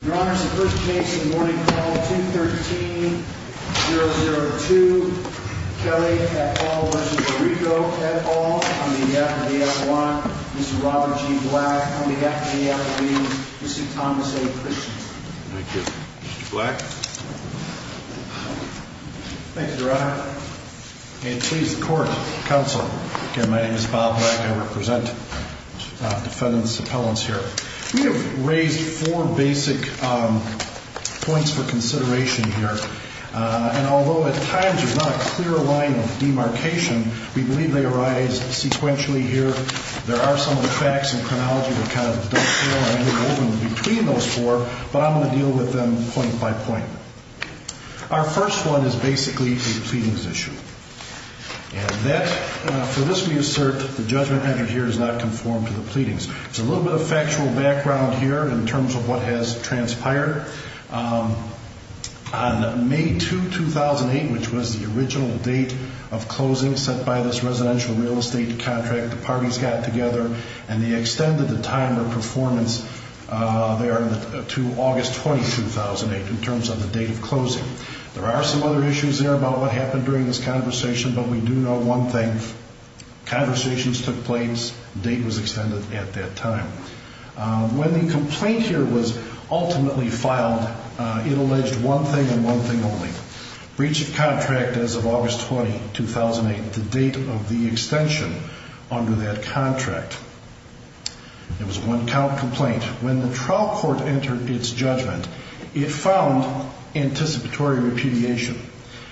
at all on behalf of the F1, Mr. Robert G. Black, on behalf of the AFB, Mr. Thomas A. Christiansen. Thank you. Mr. Black? Thank you, Your Honor. And please, the Court, Counselor. Again, my name is Bob Black. I represent the defendant's appellants here. We have raised four basic points for consideration here. And although at times there's not a clear line of demarcation, we believe they arise sequentially here. There are some of the facts and chronology that kind of duck there and move over between those four. But I'm going to deal with them point by point. Our first one is basically a pleadings issue. And that, for this we assert, the judgment entered here is not conformed to the pleadings. There's a little bit of factual background here in terms of what has transpired. On May 2, 2008, which was the original date of closing set by this residential real estate contract, the parties got together and they extended the time of performance there to August 20, 2008, in terms of the date of closing. There are some other issues there about what happened during this conversation, but we do know one thing. Conversations took place. Date was extended at that time. When the complaint here was ultimately filed, it alleged one thing and one thing only, breach of contract as of August 20, 2008, the date of the extension under that contract. It was a one-count complaint. When the trial court entered its judgment, it found anticipatory repudiation.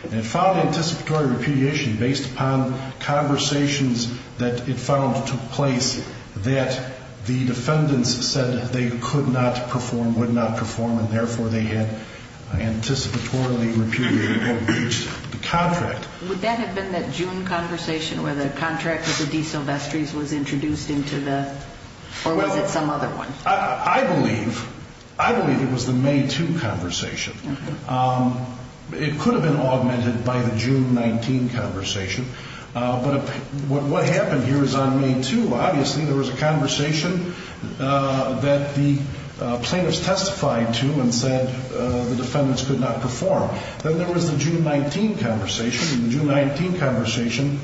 It found anticipatory repudiation based upon conversations that it found took place that the defendants said they could not perform, would not perform, and therefore they had anticipatorily repudiated or breached the contract. Would that have been that June conversation where the contract with the DeSilvestris was introduced into the or was it some other one? I believe it was the May 2 conversation. It could have been augmented by the June 19 conversation, but what happened here is on May 2. Obviously there was a conversation that the plaintiffs testified to and said the defendants could not perform. Then there was the June 19 conversation. In the June 19 conversation,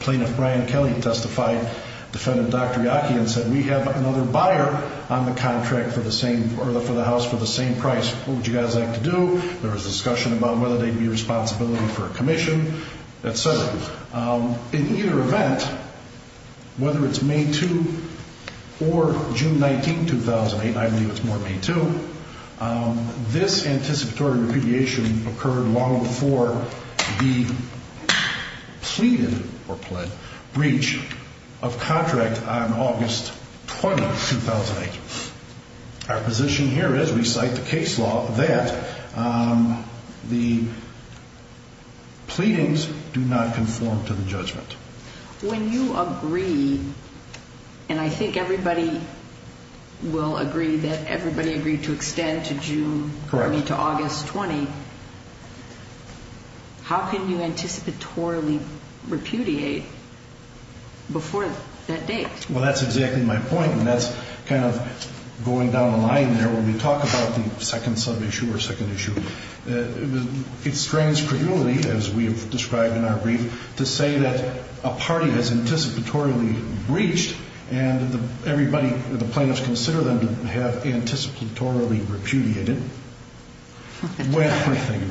Plaintiff Brian Kelly testified, defended Dr. Yockey and said, We have another buyer on the contract for the house for the same price. What would you guys like to do? There was a discussion about whether there would be a responsibility for a commission, et cetera. In either event, whether it's May 2 or June 19, 2008, I believe it's more May 2, this anticipatory repudiation occurred long before the pleaded or pled breach of contract on August 20, 2008. Our position here is, we cite the case law, that the pleadings do not conform to the judgment. When you agree, and I think everybody will agree that everybody agreed to extend to June 20 to August 20, how can you anticipatorily repudiate before that date? Well, that's exactly my point, and that's kind of going down the line there when we talk about the second sub-issue or second issue. It strains credulity, as we have described in our brief, to say that a party has anticipatorily breached and the plaintiffs consider them to have anticipatorily repudiated when, at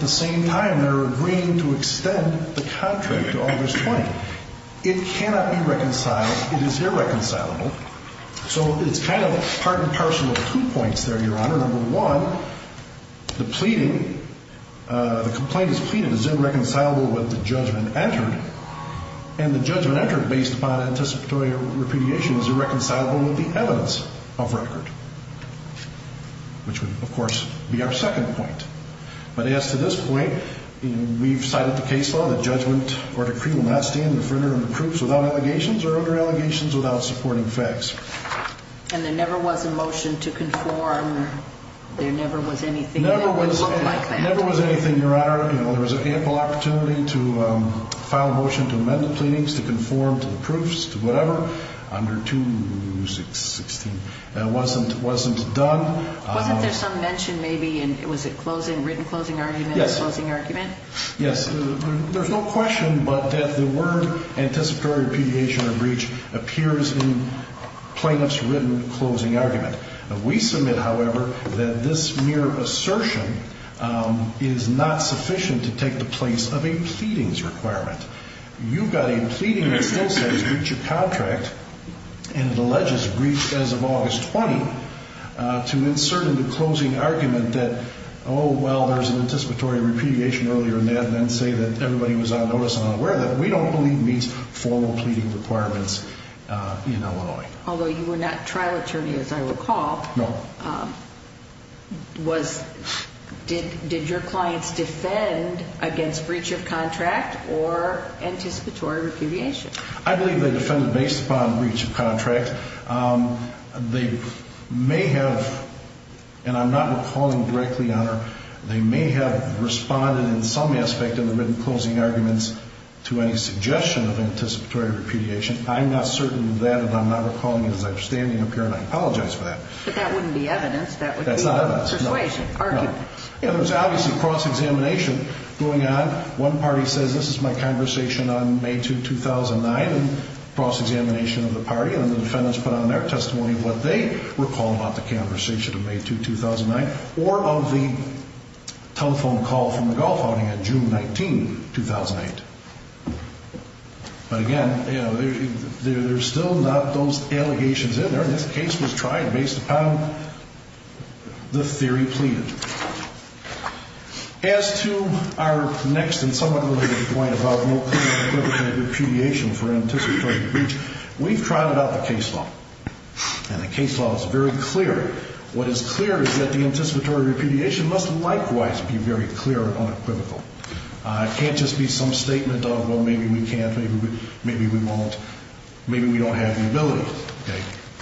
the same time, they're agreeing to extend the contract to August 20. It cannot be reconciled. It is irreconcilable. So it's kind of part and parcel of two points there, Your Honor. Number one, the pleading, the complaint is pleaded, is irreconcilable with the judgment entered, and the judgment entered based upon anticipatory repudiation is irreconcilable with the evidence of record, which would, of course, be our second point. But as to this point, we've cited the case law, the judgment or decree will not stand in front of the proofs without allegations or under allegations without supporting facts. And there never was a motion to conform. There never was anything that would look like that. Never was anything, Your Honor. There was ample opportunity to file a motion to amend the pleadings, to conform to the proofs, to whatever, under 216. That wasn't done. Wasn't there some mention maybe in, was it written closing argument? Yes. Closing argument? Yes. There's no question but that the word anticipatory repudiation or breach appears in plaintiff's written closing argument. We submit, however, that this mere assertion is not sufficient to take the place of a pleadings requirement. You've got a pleading that still says breach of contract, and it alleges a breach as of August 20 to insert in the closing argument that, oh, well, there's an anticipatory repudiation earlier in that, and then say that everybody was on notice and unaware of that. We don't believe meets formal pleading requirements in Illinois. Although you were not trial attorney, as I recall. No. Was, did your clients defend against breach of contract or anticipatory repudiation? I believe they defended based upon breach of contract. They may have, and I'm not recalling directly, Honor, they may have responded in some aspect in the written closing arguments to any suggestion of anticipatory repudiation. I'm not certain of that, and I'm not recalling it as I'm standing up here, and I apologize for that. But that wouldn't be evidence. That's not evidence. That would be a persuasion argument. No. It was obviously cross-examination going on. One party says, this is my conversation on May 2, 2009, and cross-examination of the party, and the defendants put on their testimony what they recall about the conversation of May 2, 2009, or of the telephone call from the golf outing on June 19, 2008. But, again, there's still not those allegations in there. This case was tried based upon the theory pleaded. As to our next and somewhat related point about no clear and equivocal repudiation for anticipatory breach, we've tried it out in the case law, and the case law is very clear. What is clear is that the anticipatory repudiation must likewise be very clear and unequivocal. It can't just be some statement of, well, maybe we can't, maybe we won't, maybe we don't have the ability.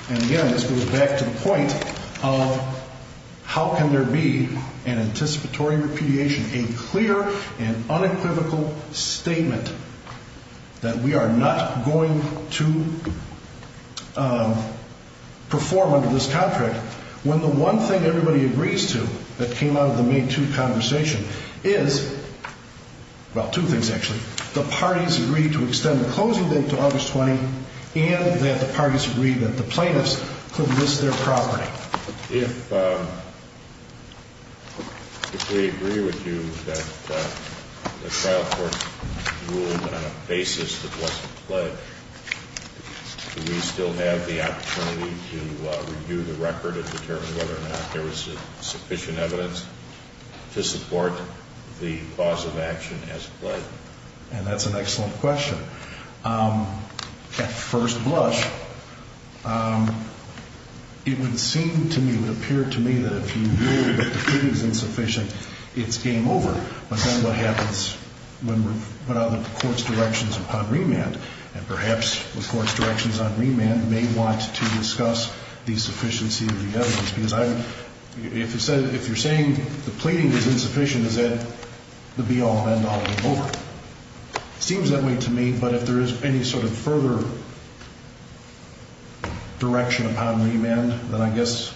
And, again, this goes back to the point of how can there be an anticipatory repudiation, a clear and unequivocal statement that we are not going to perform under this contract, when the one thing everybody agrees to that came out of the May 2 conversation is, well, two things, actually. The parties agreed to extend the closing date to August 20, and that the parties agreed that the plaintiffs could list their property. If we agree with you that the trial court ruled on a basis that wasn't pledged, do we still have the opportunity to review the record and determine whether or not there was sufficient evidence to support the cause of action as pledged? And that's an excellent question. At first blush, it would seem to me, it would appear to me that if you rule that the pleading is insufficient, it's game over. But then what happens when we're put on the court's directions upon remand, and perhaps the court's directions on remand may want to discuss the sufficiency of the evidence. Because if you're saying the pleading is insufficient, is that the be-all and end-all is over. It seems that way to me, but if there is any sort of further direction upon remand, then I guess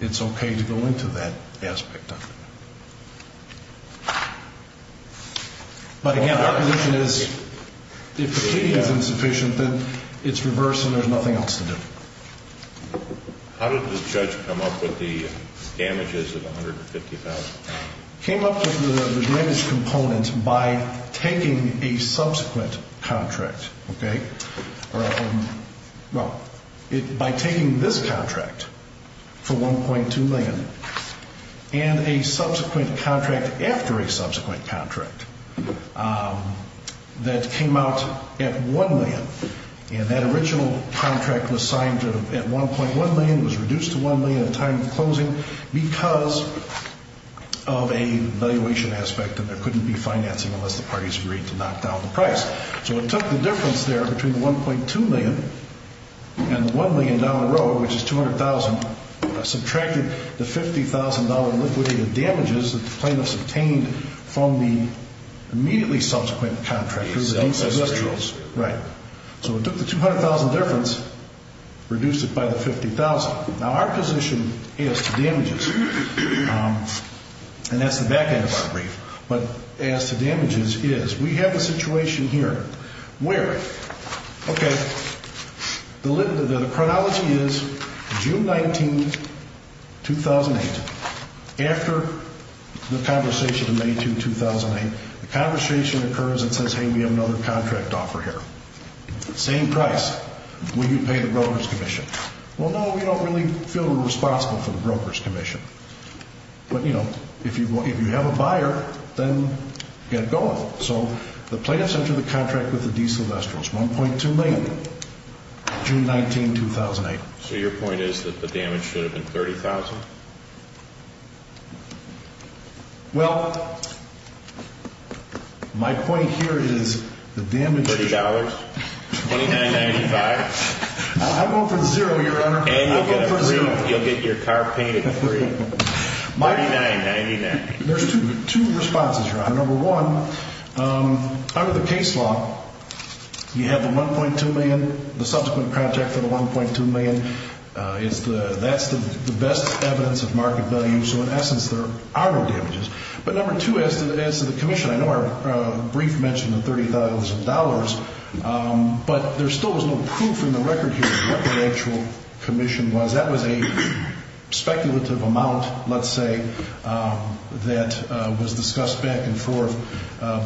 it's okay to go into that aspect of it. But again, our position is if the pleading is insufficient, then it's reversed and there's nothing else to do. How did the judge come up with the damages of $150,000? He came up with the damages component by taking a subsequent contract, okay? Well, by taking this contract for $1.2 million and a subsequent contract after a subsequent contract that came out at $1 million. And that original contract was signed at $1.1 million. It was reduced to $1 million at time of closing because of a valuation aspect that there couldn't be financing unless the parties agreed to knock down the price. So it took the difference there between the $1.2 million and the $1 million down the road, which is $200,000, subtracted the $50,000 liquidated damages that the plaintiffs obtained from the immediately subsequent contract. Right. So it took the $200,000 difference, reduced it by the $50,000. Now, our position as to damages, and that's the back end of our brief, but as to damages is we have a situation here where, okay, the chronology is June 19, 2008. After the conversation in May 2, 2008, the conversation occurs and says, hey, we have another contract offer here. Same price. Will you pay the Brokers' Commission? Well, no, we don't really feel responsible for the Brokers' Commission. But, you know, if you have a buyer, then get going. So the plaintiffs enter the contract with the De Silvestros, $1.2 million, June 19, 2008. So your point is that the damage should have been $30,000? Well, my point here is the damage. $30? $29.95? I'm going for zero, Your Honor. And you'll get your car painted green. $39.99. There's two responses, Your Honor. Number one, under the case law, you have the $1.2 million, the subsequent contract for the $1.2 million. That's the best evidence of market value. So in essence, there are no damages. But number two, as to the commission, I know our brief mentioned the $30,000, but there still was no proof in the record here of what that actual commission was. That was a speculative amount, let's say, that was discussed back and forth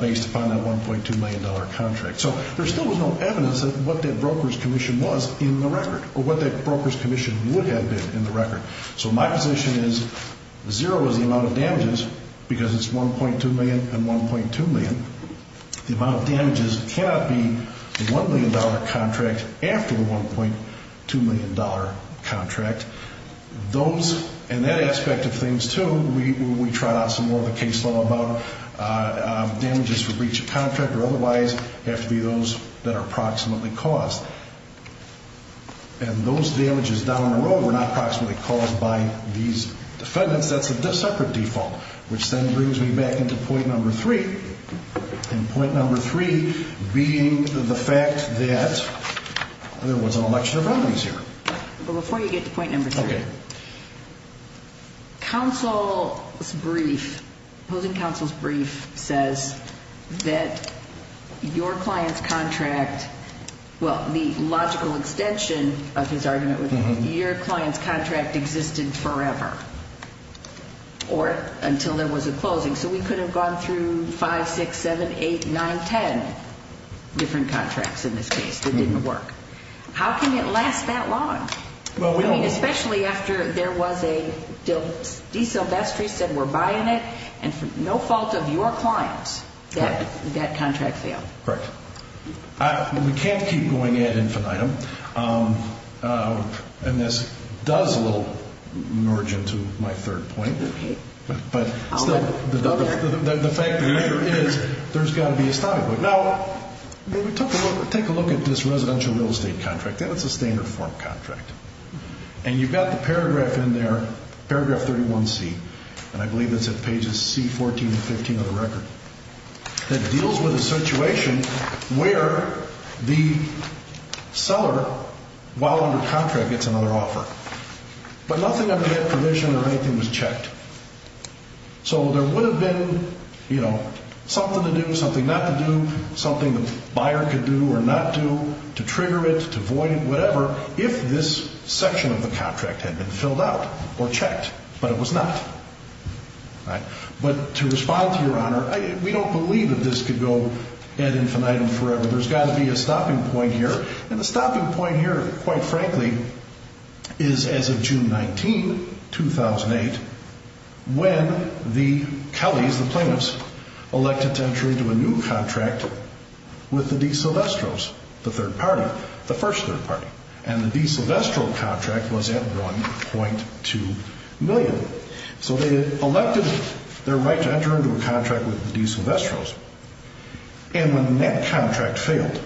based upon that $1.2 million contract. So there still was no evidence of what that Brokers' Commission was in the record or what that Brokers' Commission would have been in the record. So my position is zero is the amount of damages because it's $1.2 million and $1.2 million. The amount of damages cannot be the $1 million contract after the $1.2 million contract. Those, and that aspect of things, too, we tried out some more of the case law about. Damages for breach of contract or otherwise have to be those that are approximately caused. And those damages down the road were not approximately caused by these defendants. That's a separate default, which then brings me back into point number three, and point number three being the fact that there was an election of remedies here. Before you get to point number three, counsel's brief, opposing counsel's brief, says that your client's contract, well, the logical extension of his argument was that your client's contract existed forever or until there was a closing. So we could have gone through five, six, seven, eight, nine, ten different contracts in this case that didn't work. How can it last that long? I mean, especially after there was a deal. De Silvestri said we're buying it, and for no fault of your clients, that contract failed. Correct. We can't keep going ad infinitum, and this does a little nudge into my third point. But the fact of the matter is there's got to be a stopping point. Now, take a look at this residential real estate contract. That's a standard form contract, and you've got the paragraph in there, paragraph 31C, and I believe that's at pages C14 and 15 of the record. It deals with a situation where the seller, while under contract, gets another offer, but nothing under that provision or anything was checked. So there would have been, you know, something to do, something not to do, something the buyer could do or not do to trigger it, to void it, whatever, if this section of the contract had been filled out or checked, but it was not. But to respond to Your Honor, we don't believe that this could go ad infinitum forever. There's got to be a stopping point here, and the stopping point here, quite frankly, is as of June 19, 2008, when the Kellys, the plaintiffs, elected to enter into a new contract with the De Silvestros, the third party, the first third party, and the De Silvestro contract was at $1.2 million. So they elected their right to enter into a contract with the De Silvestros, and when that contract failed,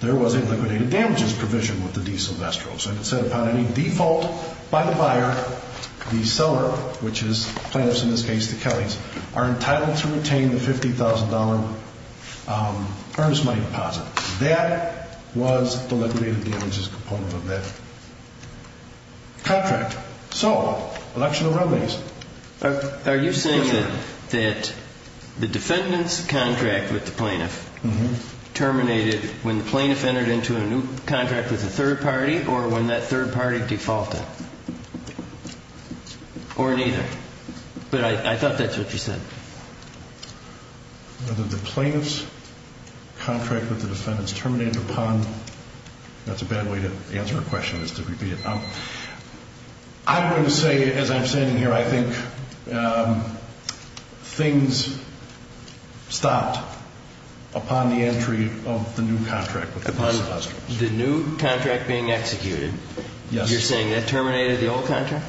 there was a liquidated damages provision with the De Silvestros. It said upon any default by the buyer, the seller, which is plaintiffs in this case, the Kellys, are entitled to retain the $50,000 earnest money deposit. That was the liquidated damages component of that contract. So election of remedies. Are you saying that the defendant's contract with the plaintiff terminated when the plaintiff entered into a new contract with the third party or when that third party defaulted? Or neither? But I thought that's what you said. Whether the plaintiff's contract with the defendant's terminated upon, that's a bad way to answer a question is to repeat it. I'm going to say, as I'm standing here, I think things stopped upon the entry of the new contract with the De Silvestros. Upon the new contract being executed? Yes. You're saying that terminated the old contract?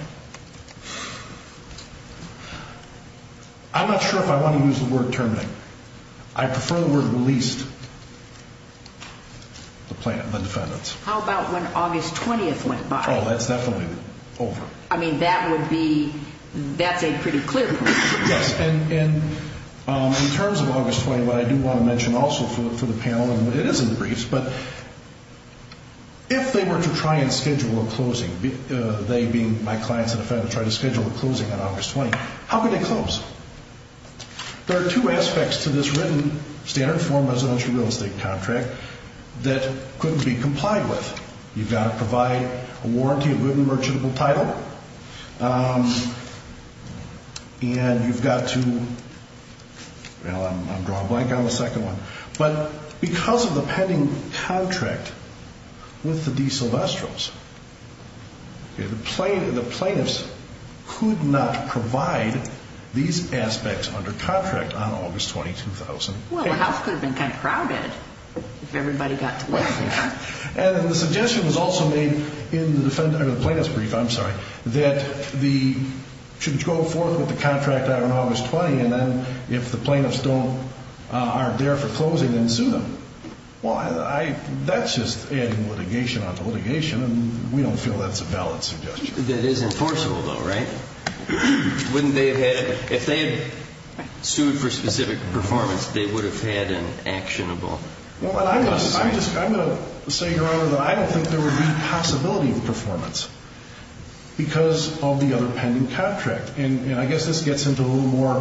I'm not sure if I want to use the word terminated. I prefer the word released, the defendant's. How about when August 20th went by? Oh, that's definitely over. I mean, that would be, that's a pretty clear point. Yes. And in terms of August 20th, what I do want to mention also for the panel, and it is in the briefs, but if they were to try and schedule a closing, they being my clients and the defendant, try to schedule a closing on August 20th, how could they close? There are two aspects to this written standard form residential real estate contract that couldn't be complied with. You've got to provide a warranty of written merchantable title, and you've got to, well, I'm drawing a blank on the second one. But because of the pending contract with the De Silvestros, the plaintiffs could not provide these aspects under contract on August 20th, 2008. Well, the house could have been kind of crowded if everybody got to live there. And the suggestion was also made in the plaintiff's brief, I'm sorry, that they should go forth with the contract on August 20th, and then if the plaintiffs aren't there for closing, then sue them. Well, that's just adding litigation onto litigation, and we don't feel that's a valid suggestion. That is enforceable, though, right? Wouldn't they have had, if they had sued for specific performance, they would have had an actionable? Well, I'm going to say, Your Honor, that I don't think there would be a possibility of performance because of the other pending contract. And I guess this gets into a little more,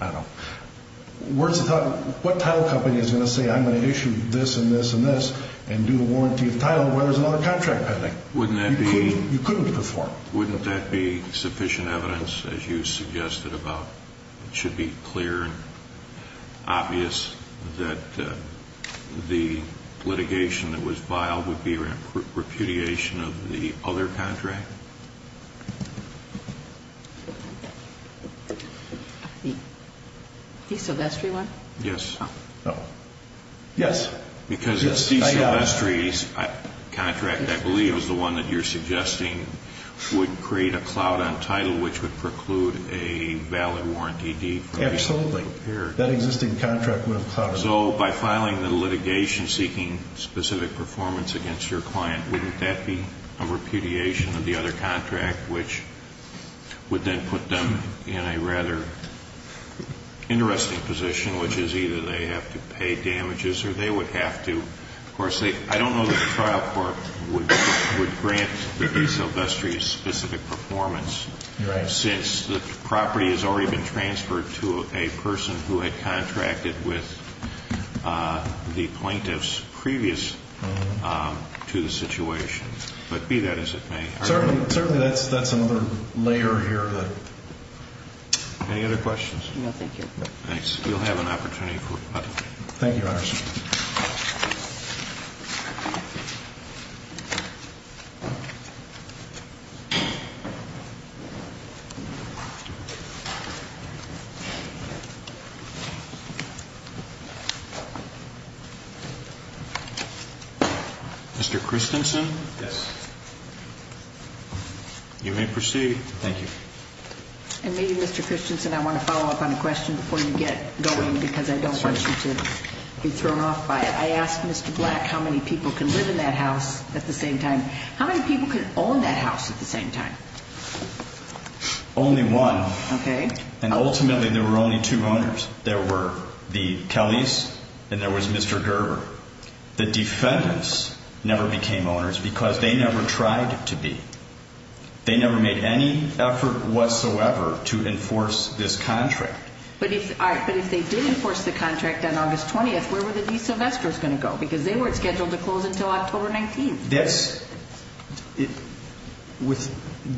I don't know, words of thought. What title company is going to say I'm going to issue this and this and this and do a warranty of title where there's another contract pending? You couldn't perform. Wouldn't that be sufficient evidence, as you suggested, about it should be clear and obvious that the litigation that was filed would be repudiation of the other contract? The De Silvestri one? Yes. Oh. Yes. Because De Silvestri's contract, I believe, is the one that you're suggesting would create a cloud on title which would preclude a valid warranty deed. Absolutely. That existing contract would have clouded it. So by filing the litigation seeking specific performance against your client, wouldn't that be a repudiation of the other contract, which would then put them in a rather interesting position, which is either they have to pay damages or they would have to. Of course, I don't know that the trial court would grant the De Silvestri a specific performance. Right. Since the property has already been transferred to a person who had contracted with the plaintiffs previous to the situation. But be that as it may. Certainly, that's another layer here. Any other questions? No, thank you. Thanks. Thank you, Your Honor. Mr. Christensen? Yes. You may proceed. Thank you. And maybe, Mr. Christensen, I want to follow up on a question before you get going because I don't want you to be thrown off by it. I asked Mr. Black how many people can live in that house at the same time. How many people can own that house at the same time? Only one. Okay. And ultimately, there were only two owners. There were the Kellys and there was Mr. Gerber. The defendants never became owners because they never tried to be. They never made any effort whatsoever to enforce this contract. But if they did enforce the contract on August 20th, where were the De Silvestris going to go? Because they weren't scheduled to close until October 19th.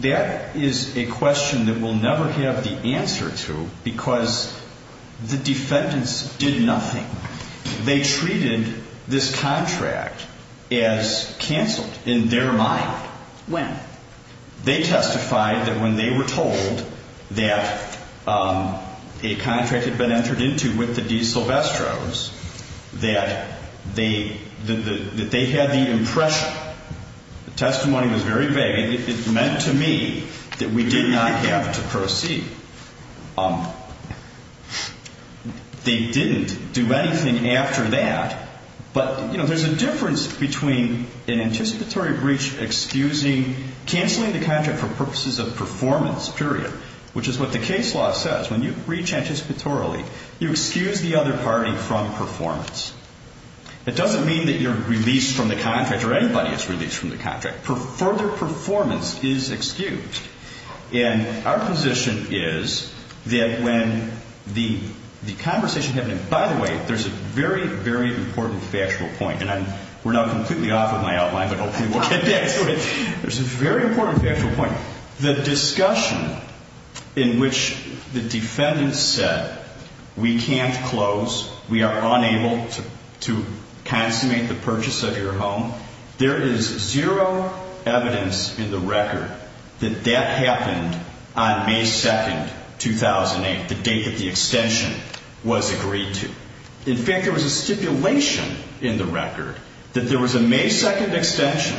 That is a question that we'll never have the answer to because the defendants did nothing. They treated this contract as canceled in their mind. When? They testified that when they were told that a contract had been entered into with the De Silvestris, that they had the impression. The testimony was very vague. It meant to me that we did not have to proceed. They didn't do anything after that. But, you know, there's a difference between an anticipatory breach excusing, canceling the contract for purposes of performance, period, which is what the case law says. When you breach anticipatorily, you excuse the other party from performance. It doesn't mean that you're released from the contract or anybody is released from the contract. Further performance is excused. And our position is that when the conversation happened, and by the way, there's a very, very important factual point, and we're now completely off of my outline, but hopefully we'll get back to it. There's a very important factual point. The discussion in which the defendants said we can't close, we are unable to consummate the purchase of your home, there is zero evidence in the record that that happened on May 2nd, 2008, the date that the extension was agreed to. In fact, there was a stipulation in the record that there was a May 2nd extension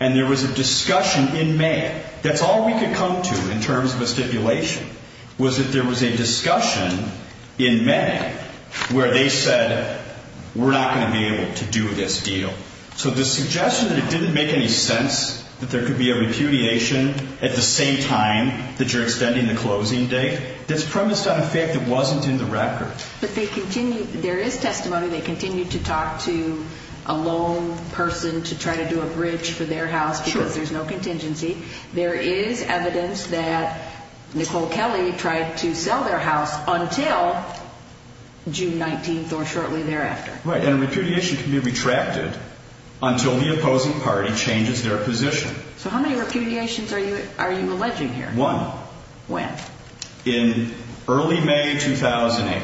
and there was a discussion in May. That's all we could come to in terms of a stipulation was that there was a discussion in May where they said we're not going to be able to do this deal. So the suggestion that it didn't make any sense that there could be a repudiation at the same time that you're extending the closing date, that's premised on a fact that wasn't in the record. But they continue, there is testimony, they continue to talk to a lone person to try to do a bridge for their house because there's no contingency. There is evidence that Nicole Kelly tried to sell their house until June 19th or shortly thereafter. Right, and a repudiation can be retracted until the opposing party changes their position. So how many repudiations are you alleging here? One. When? In early May 2008,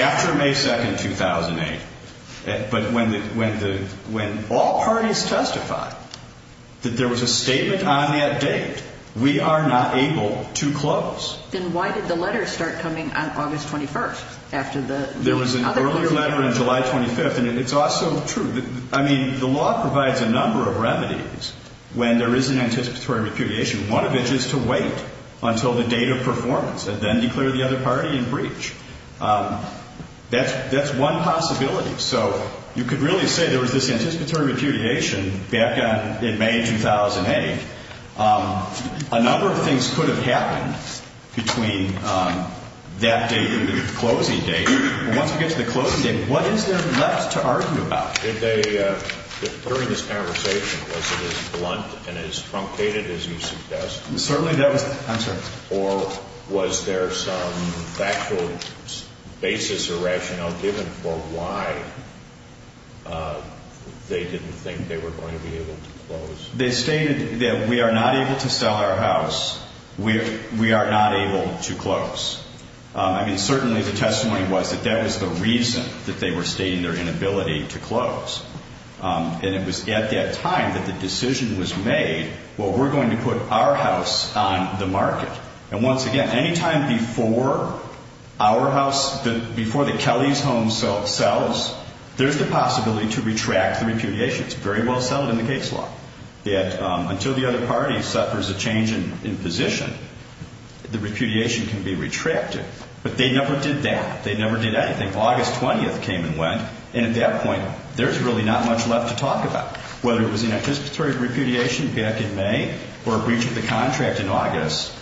after May 2nd, 2008. But when all parties testified that there was a statement on that date, we are not able to close. Then why did the letters start coming on August 21st? There was an earlier letter on July 25th, and it's also true. I mean, the law provides a number of remedies when there is an anticipatory repudiation, one of which is to wait until the date of performance and then declare the other party in breach. That's one possibility. So you could really say there was this anticipatory repudiation back in May 2008. A number of things could have happened between that date and the closing date. Once we get to the closing date, what is there left to argue about? Did they, during this conversation, was it as blunt and as truncated as you suggest? Certainly that was the answer. Or was there some factual basis or rationale given for why they didn't think they were going to be able to close? They stated that we are not able to sell our house. We are not able to close. I mean, certainly the testimony was that that was the reason that they were stating their inability to close. And it was at that time that the decision was made, well, we're going to put our house on the market. And once again, any time before our house, before the Kelly's home sells, there's the possibility to retract the repudiation. It's very well settled in the case law that until the other party suffers a change in position, the repudiation can be retracted. But they never did that. They never did anything. August 20th came and went. And at that point, there's really not much left to talk about. Whether it was anticipatory repudiation back in May or a breach of the contract in August,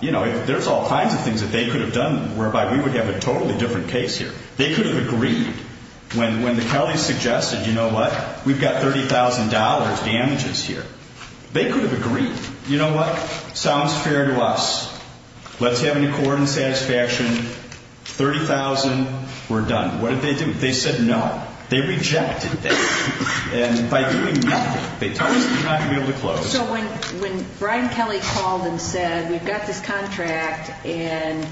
you know, there's all kinds of things that they could have done whereby we would have a totally different case here. They could have agreed. When the Kelly's suggested, you know what, we've got $30,000 damages here, they could have agreed. You know what? Sounds fair to us. Let's have an accord and satisfaction. $30,000. We're done. What did they do? They said no. They rejected it. And by doing nothing, they told us we're not going to be able to close. So when Brian Kelly called and said we've got this contract and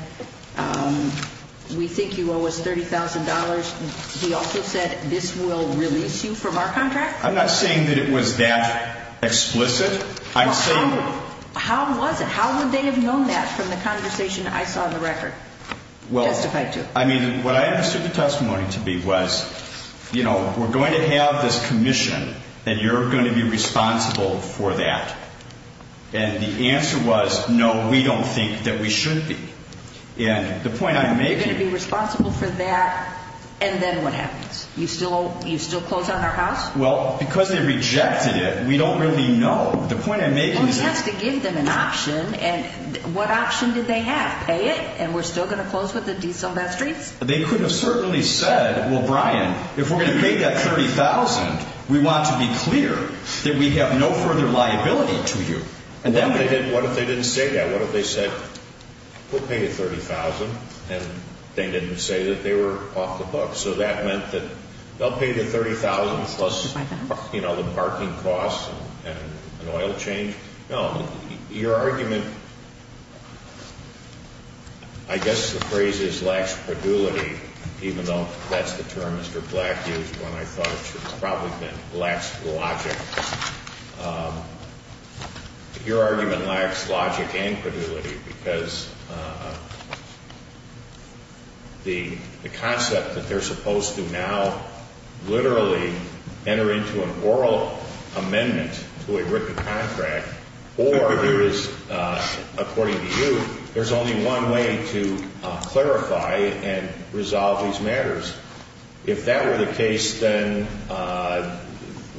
we think you owe us $30,000, he also said this will release you from our contract? I'm not saying that it was that explicit. How was it? How would they have known that from the conversation I saw on the record? Well, I mean, what I understood the testimony to be was, you know, we're going to have this commission and you're going to be responsible for that. And the answer was, no, we don't think that we should be. And the point I'm making is. You're going to be responsible for that and then what happens? You still close on our house? Well, because they rejected it, we don't really know. The point I'm making is. Well, he has to give them an option. And what option did they have? Pay it and we're still going to close with the diesel back streets? They could have certainly said, well, Brian, if we're going to pay that $30,000, we want to be clear that we have no further liability to you. What if they didn't say that? What if they said we'll pay you $30,000 and they didn't say that they were off the books? So that meant that they'll pay the $30,000 plus, you know, the parking costs and an oil change? No. Your argument, I guess the phrase is lax predulity, even though that's the term Mr. Black used when I thought it should have probably been lax logic. Your argument lacks logic and predulity because the concept that they're supposed to now literally enter into an oral amendment to a written contract or there is, according to you, there's only one way to clarify and resolve these matters. If that were the case, then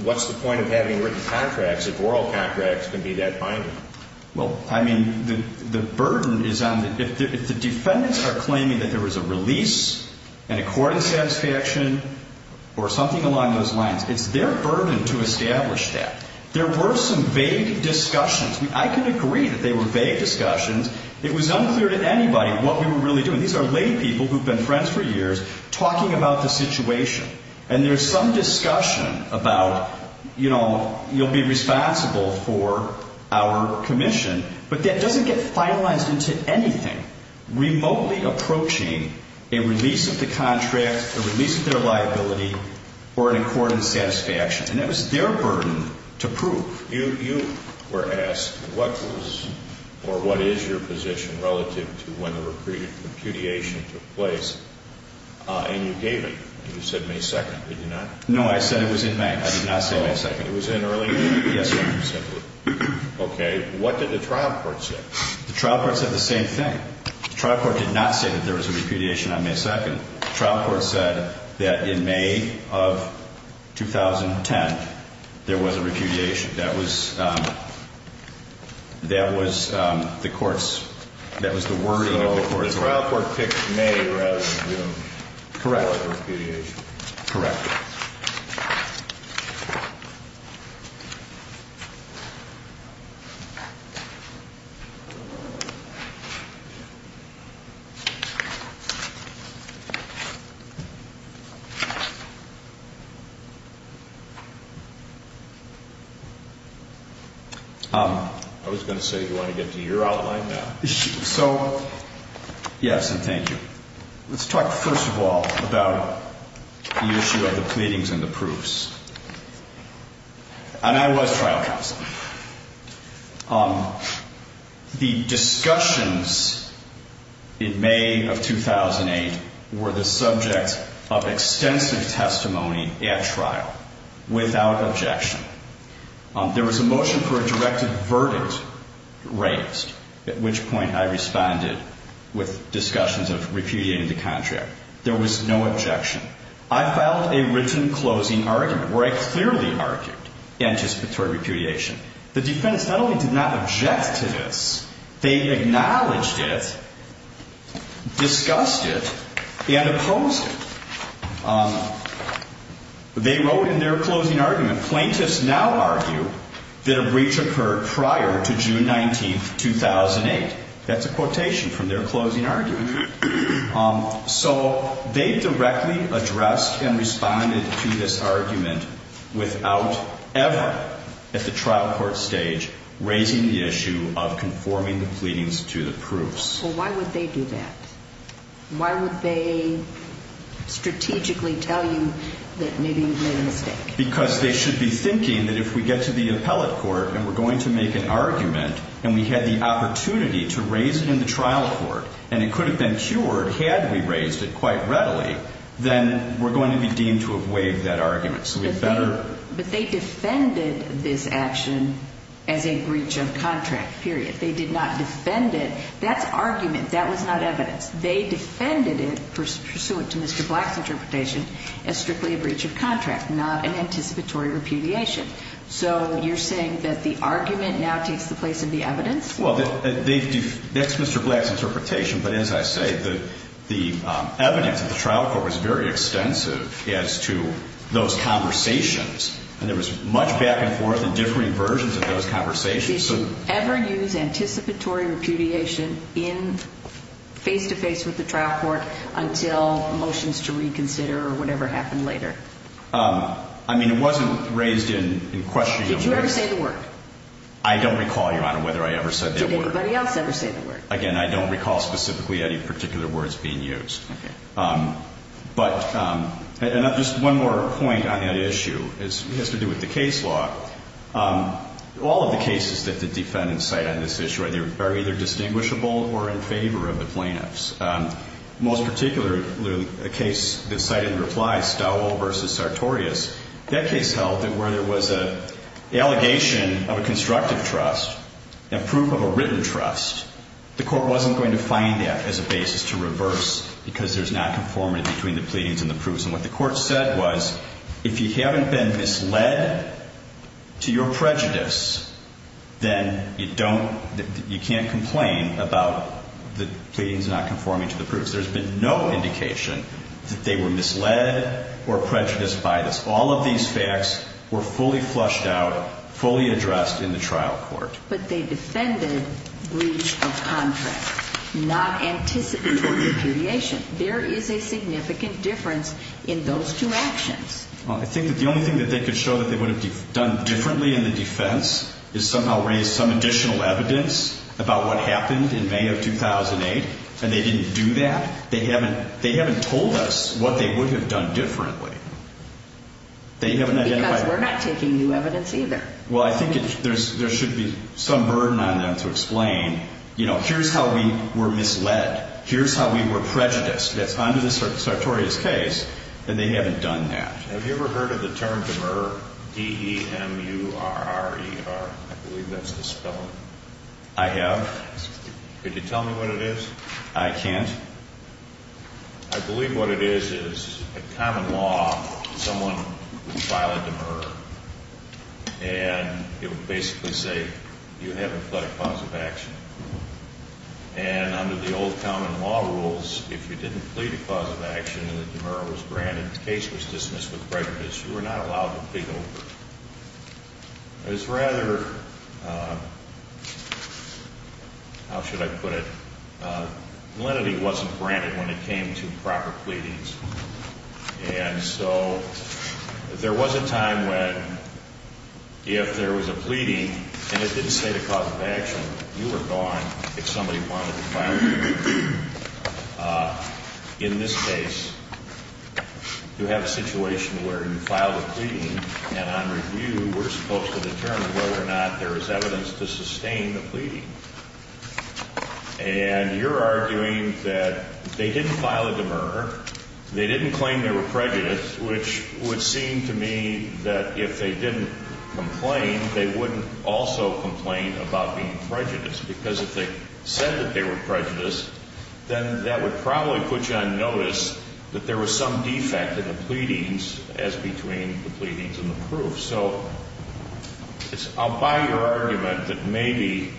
what's the point of having written contracts if oral contracts can be that binding? Well, I mean, the burden is on the. If the defendants are claiming that there was a release and a court of satisfaction or something along those lines, it's their burden to establish that. There were some vague discussions. I can agree that they were vague discussions. It was unclear to anybody what we were really doing. These are lay people who have been friends for years talking about the situation, and there's some discussion about, you know, you'll be responsible for our commission, but that doesn't get finalized into anything. Remotely approaching a release of the contract, a release of their liability, or a court of satisfaction, and that was their burden to prove. You were asked what was or what is your position relative to when the repudiation took place, and you gave it. You said May 2nd. Did you not? No, I said it was in May. I did not say May 2nd. It was in early May? Yes, Your Honor. Okay. What did the trial court say? The trial court said the same thing. The trial court did not say that there was a repudiation on May 2nd. The trial court said that in May of 2010, there was a repudiation. That was the court's, that was the wording of the court's record. So the trial court picked May rather than June for the repudiation. Correct. Correct. I was going to say, do you want to get to your outline now? So, yes, and thank you. Let's talk first of all about the issue of the pleadings and the proofs. And I was trial counsel. The discussions in May of 2008 were the subject of extensive testimony at trial without objection. There was a motion for a directed verdict raised, at which point I responded with discussions of repudiating the contract. There was no objection. I filed a written closing argument where I clearly argued anticipatory repudiation. The defense not only did not object to this, they acknowledged it, discussed it, and opposed it. They wrote in their closing argument, plaintiffs now argue that a breach occurred prior to June 19th, 2008. That's a quotation from their closing argument. So they directly addressed and responded to this argument without ever, at the trial court stage, raising the issue of conforming the pleadings to the proofs. Well, why would they do that? Why would they strategically tell you that maybe you made a mistake? Because they should be thinking that if we get to the appellate court and we're going to make an argument and we had the opportunity to raise it in the trial court and it could have been cured had we raised it quite readily, then we're going to be deemed to have waived that argument. So we'd better. But they defended this action as a breach of contract, period. They did not defend it. That's argument. That was not evidence. They defended it pursuant to Mr. Black's interpretation as strictly a breach of contract, not an anticipatory repudiation. So you're saying that the argument now takes the place of the evidence? Well, that's Mr. Black's interpretation. But as I say, the evidence at the trial court was very extensive as to those conversations. And there was much back and forth and differing versions of those conversations. Did you ever use anticipatory repudiation face-to-face with the trial court until motions to reconsider or whatever happened later? I mean, it wasn't raised in question. Did you ever say the word? I don't recall, Your Honor, whether I ever said that word. Did anybody else ever say the word? Again, I don't recall specifically any particular words being used. Okay. But just one more point on that issue. It has to do with the case law. All of the cases that the defendants cite on this issue are either distinguishable or in favor of the plaintiffs. Most particularly a case that cited in reply, Stowell v. Sartorius. That case held that where there was an allegation of a constructive trust and proof of a written trust, the court wasn't going to find that as a basis to reverse because there's not conformity between the pleadings and the proofs. And what the court said was, if you haven't been misled to your prejudice, then you can't complain about the pleadings not conforming to the proofs. There's been no indication that they were misled or prejudiced by this. All of these facts were fully flushed out, fully addressed in the trial court. But they defended breach of contract, not anticipatory repudiation. There is a significant difference in those two actions. Well, I think that the only thing that they could show that they would have done differently in the defense is somehow raise some additional evidence about what happened in May of 2008. And they didn't do that. They haven't told us what they would have done differently. Because we're not taking new evidence either. Well, I think there should be some burden on them to explain, you know, here's how we were misled. Here's how we were prejudiced. That's under the sartorius case. And they haven't done that. Have you ever heard of the term demurrer? D-E-M-U-R-R-E-R. I believe that's the spelling. I have. Could you tell me what it is? I can't. I believe what it is is a common law. Someone would file a demurrer. And it would basically say, you have a pledge clause of action. And under the old common law rules, if you didn't plead a clause of action and the demurrer was granted and the case was dismissed with prejudice, you were not allowed to plead over it. It was rather, how should I put it, lenity wasn't granted when it came to proper pleadings. And so there was a time when if there was a pleading and it didn't say the clause of action, you were gone if somebody wanted to file a demurrer. In this case, you have a situation where you file a pleading, and on review we're supposed to determine whether or not there is evidence to sustain the pleading. And you're arguing that they didn't file a demurrer, they didn't claim they were prejudiced, which would seem to me that if they didn't complain, they wouldn't also complain about being prejudiced. Because if they said that they were prejudiced, then that would probably put you on notice that there was some defect in the pleadings as between the pleadings and the proof. So I'll buy your argument that maybe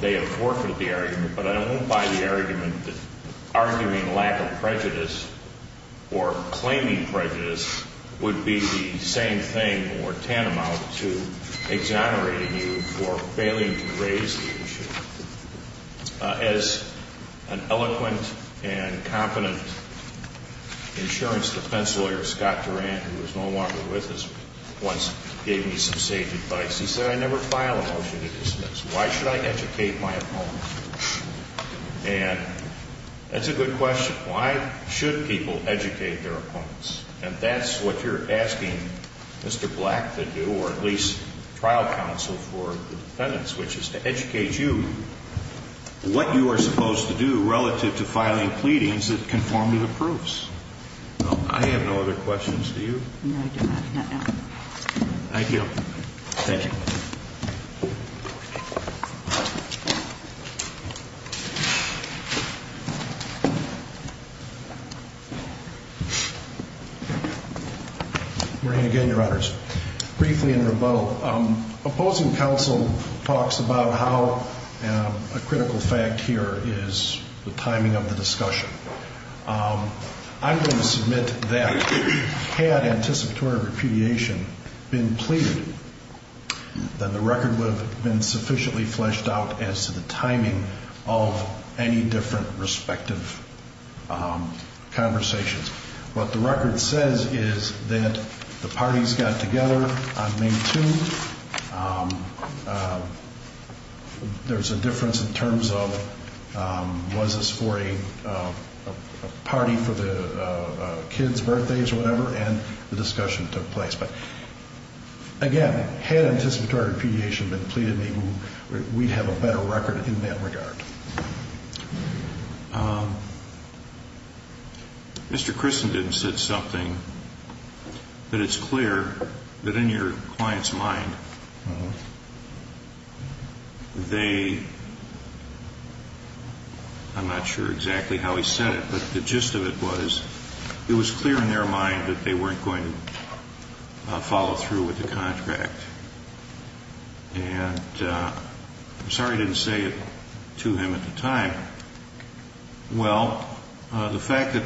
they have forfeited the argument, but I won't buy the argument that arguing lack of prejudice or claiming prejudice would be the same thing or tantamount to exonerating you for failing to raise the issue. As an eloquent and competent insurance defense lawyer, Scott Durant, who is no longer with us, once gave me some sage advice. He said, I never file a motion to dismiss. Why should I educate my opponents? And that's a good question. Why should people educate their opponents? And that's what you're asking Mr. Black to do, or at least trial counsel for the defendants, which is to educate you what you are supposed to do relative to filing pleadings that conform to the proofs. I have no other questions. Do you? No, I do not. Not now. Thank you. Thank you. Thank you. Good morning again, Your Honors. Briefly in rebuttal, opposing counsel talks about how a critical fact here is the timing of the discussion. I'm going to submit that had anticipatory repudiation been pleaded, then the record would have been sufficiently fleshed out as to the timing of any different respective conversations. What the record says is that the parties got together on May 2nd. There's a difference in terms of was this for a party for the kids' birthdays or whatever, and the discussion took place. But again, had anticipatory repudiation been pleaded, we'd have a better record in that regard. Mr. Christen didn't say something, but it's clear that in your client's mind, they, I'm not sure exactly how he said it, but the gist of it was it was clear in their mind that they weren't going to follow through with the contract. And I'm sorry I didn't say it to him at the time. Well, the fact that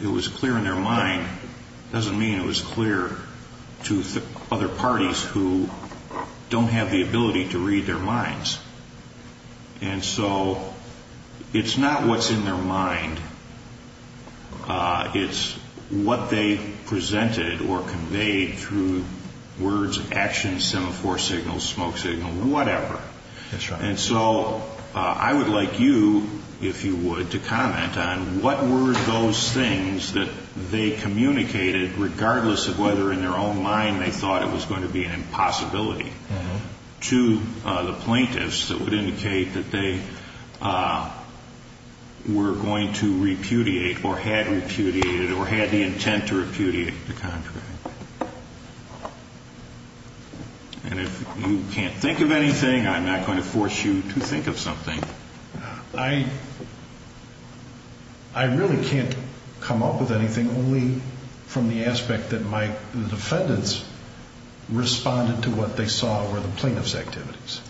it was clear in their mind doesn't mean it was clear to other parties who don't have the ability to read their minds. And so it's not what's in their mind. It's what they presented or conveyed through words, actions, semaphore signals, smoke signal, whatever. And so I would like you, if you would, to comment on what were those things that they communicated, regardless of whether in their own mind they thought it was going to be an impossibility, to the plaintiffs that would indicate that they were going to repudiate or had repudiated or had the intent to repudiate the contract. And if you can't think of anything, I'm not going to force you to think of something. I really can't come up with anything only from the aspect that my defendants responded to what they saw. What they saw were the plaintiff's activities.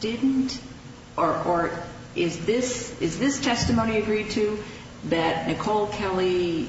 Didn't or is this testimony agreed to that Nicole Kelly,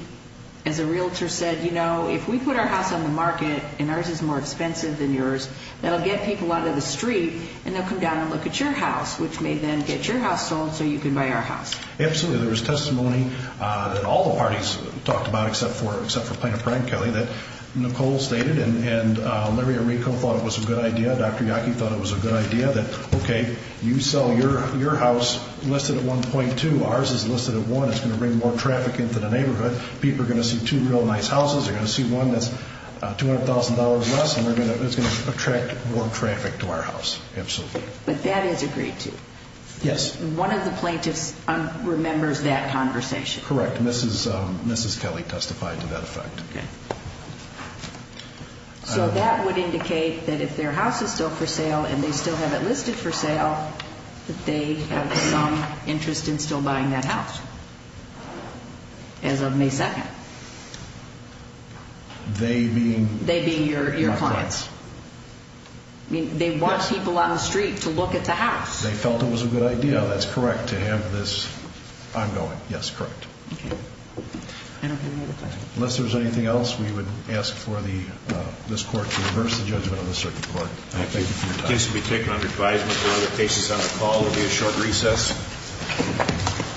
as a realtor, said, you know, if we put our house on the market and ours is more expensive than yours, that'll get people out on the street and they'll come down and look at your house, which may then get your house sold so you can buy our house. Absolutely. There was testimony that all the parties talked about, except for Plaintiff Brian Kelly, that Nicole stated and Larry Arrico thought it was a good idea, Dr. Yockey thought it was a good idea, that, okay, you sell your house listed at 1.2, ours is listed at 1, it's going to bring more traffic into the neighborhood, people are going to see two real nice houses, they're going to see one that's $200,000 less, and it's going to attract more traffic to our house. Absolutely. But that is agreed to? Yes. One of the plaintiffs remembers that conversation? Correct. Mrs. Kelly testified to that effect. So that would indicate that if their house is still for sale and they still have it listed for sale, that they have some interest in still buying that house as of May 2nd? They being your clients. They want people on the street to look at the house. They felt it was a good idea, that's correct, to have this ongoing. Yes, correct. Unless there's anything else, we would ask for this court to reverse the judgment of the circuit court. Thank you for your time.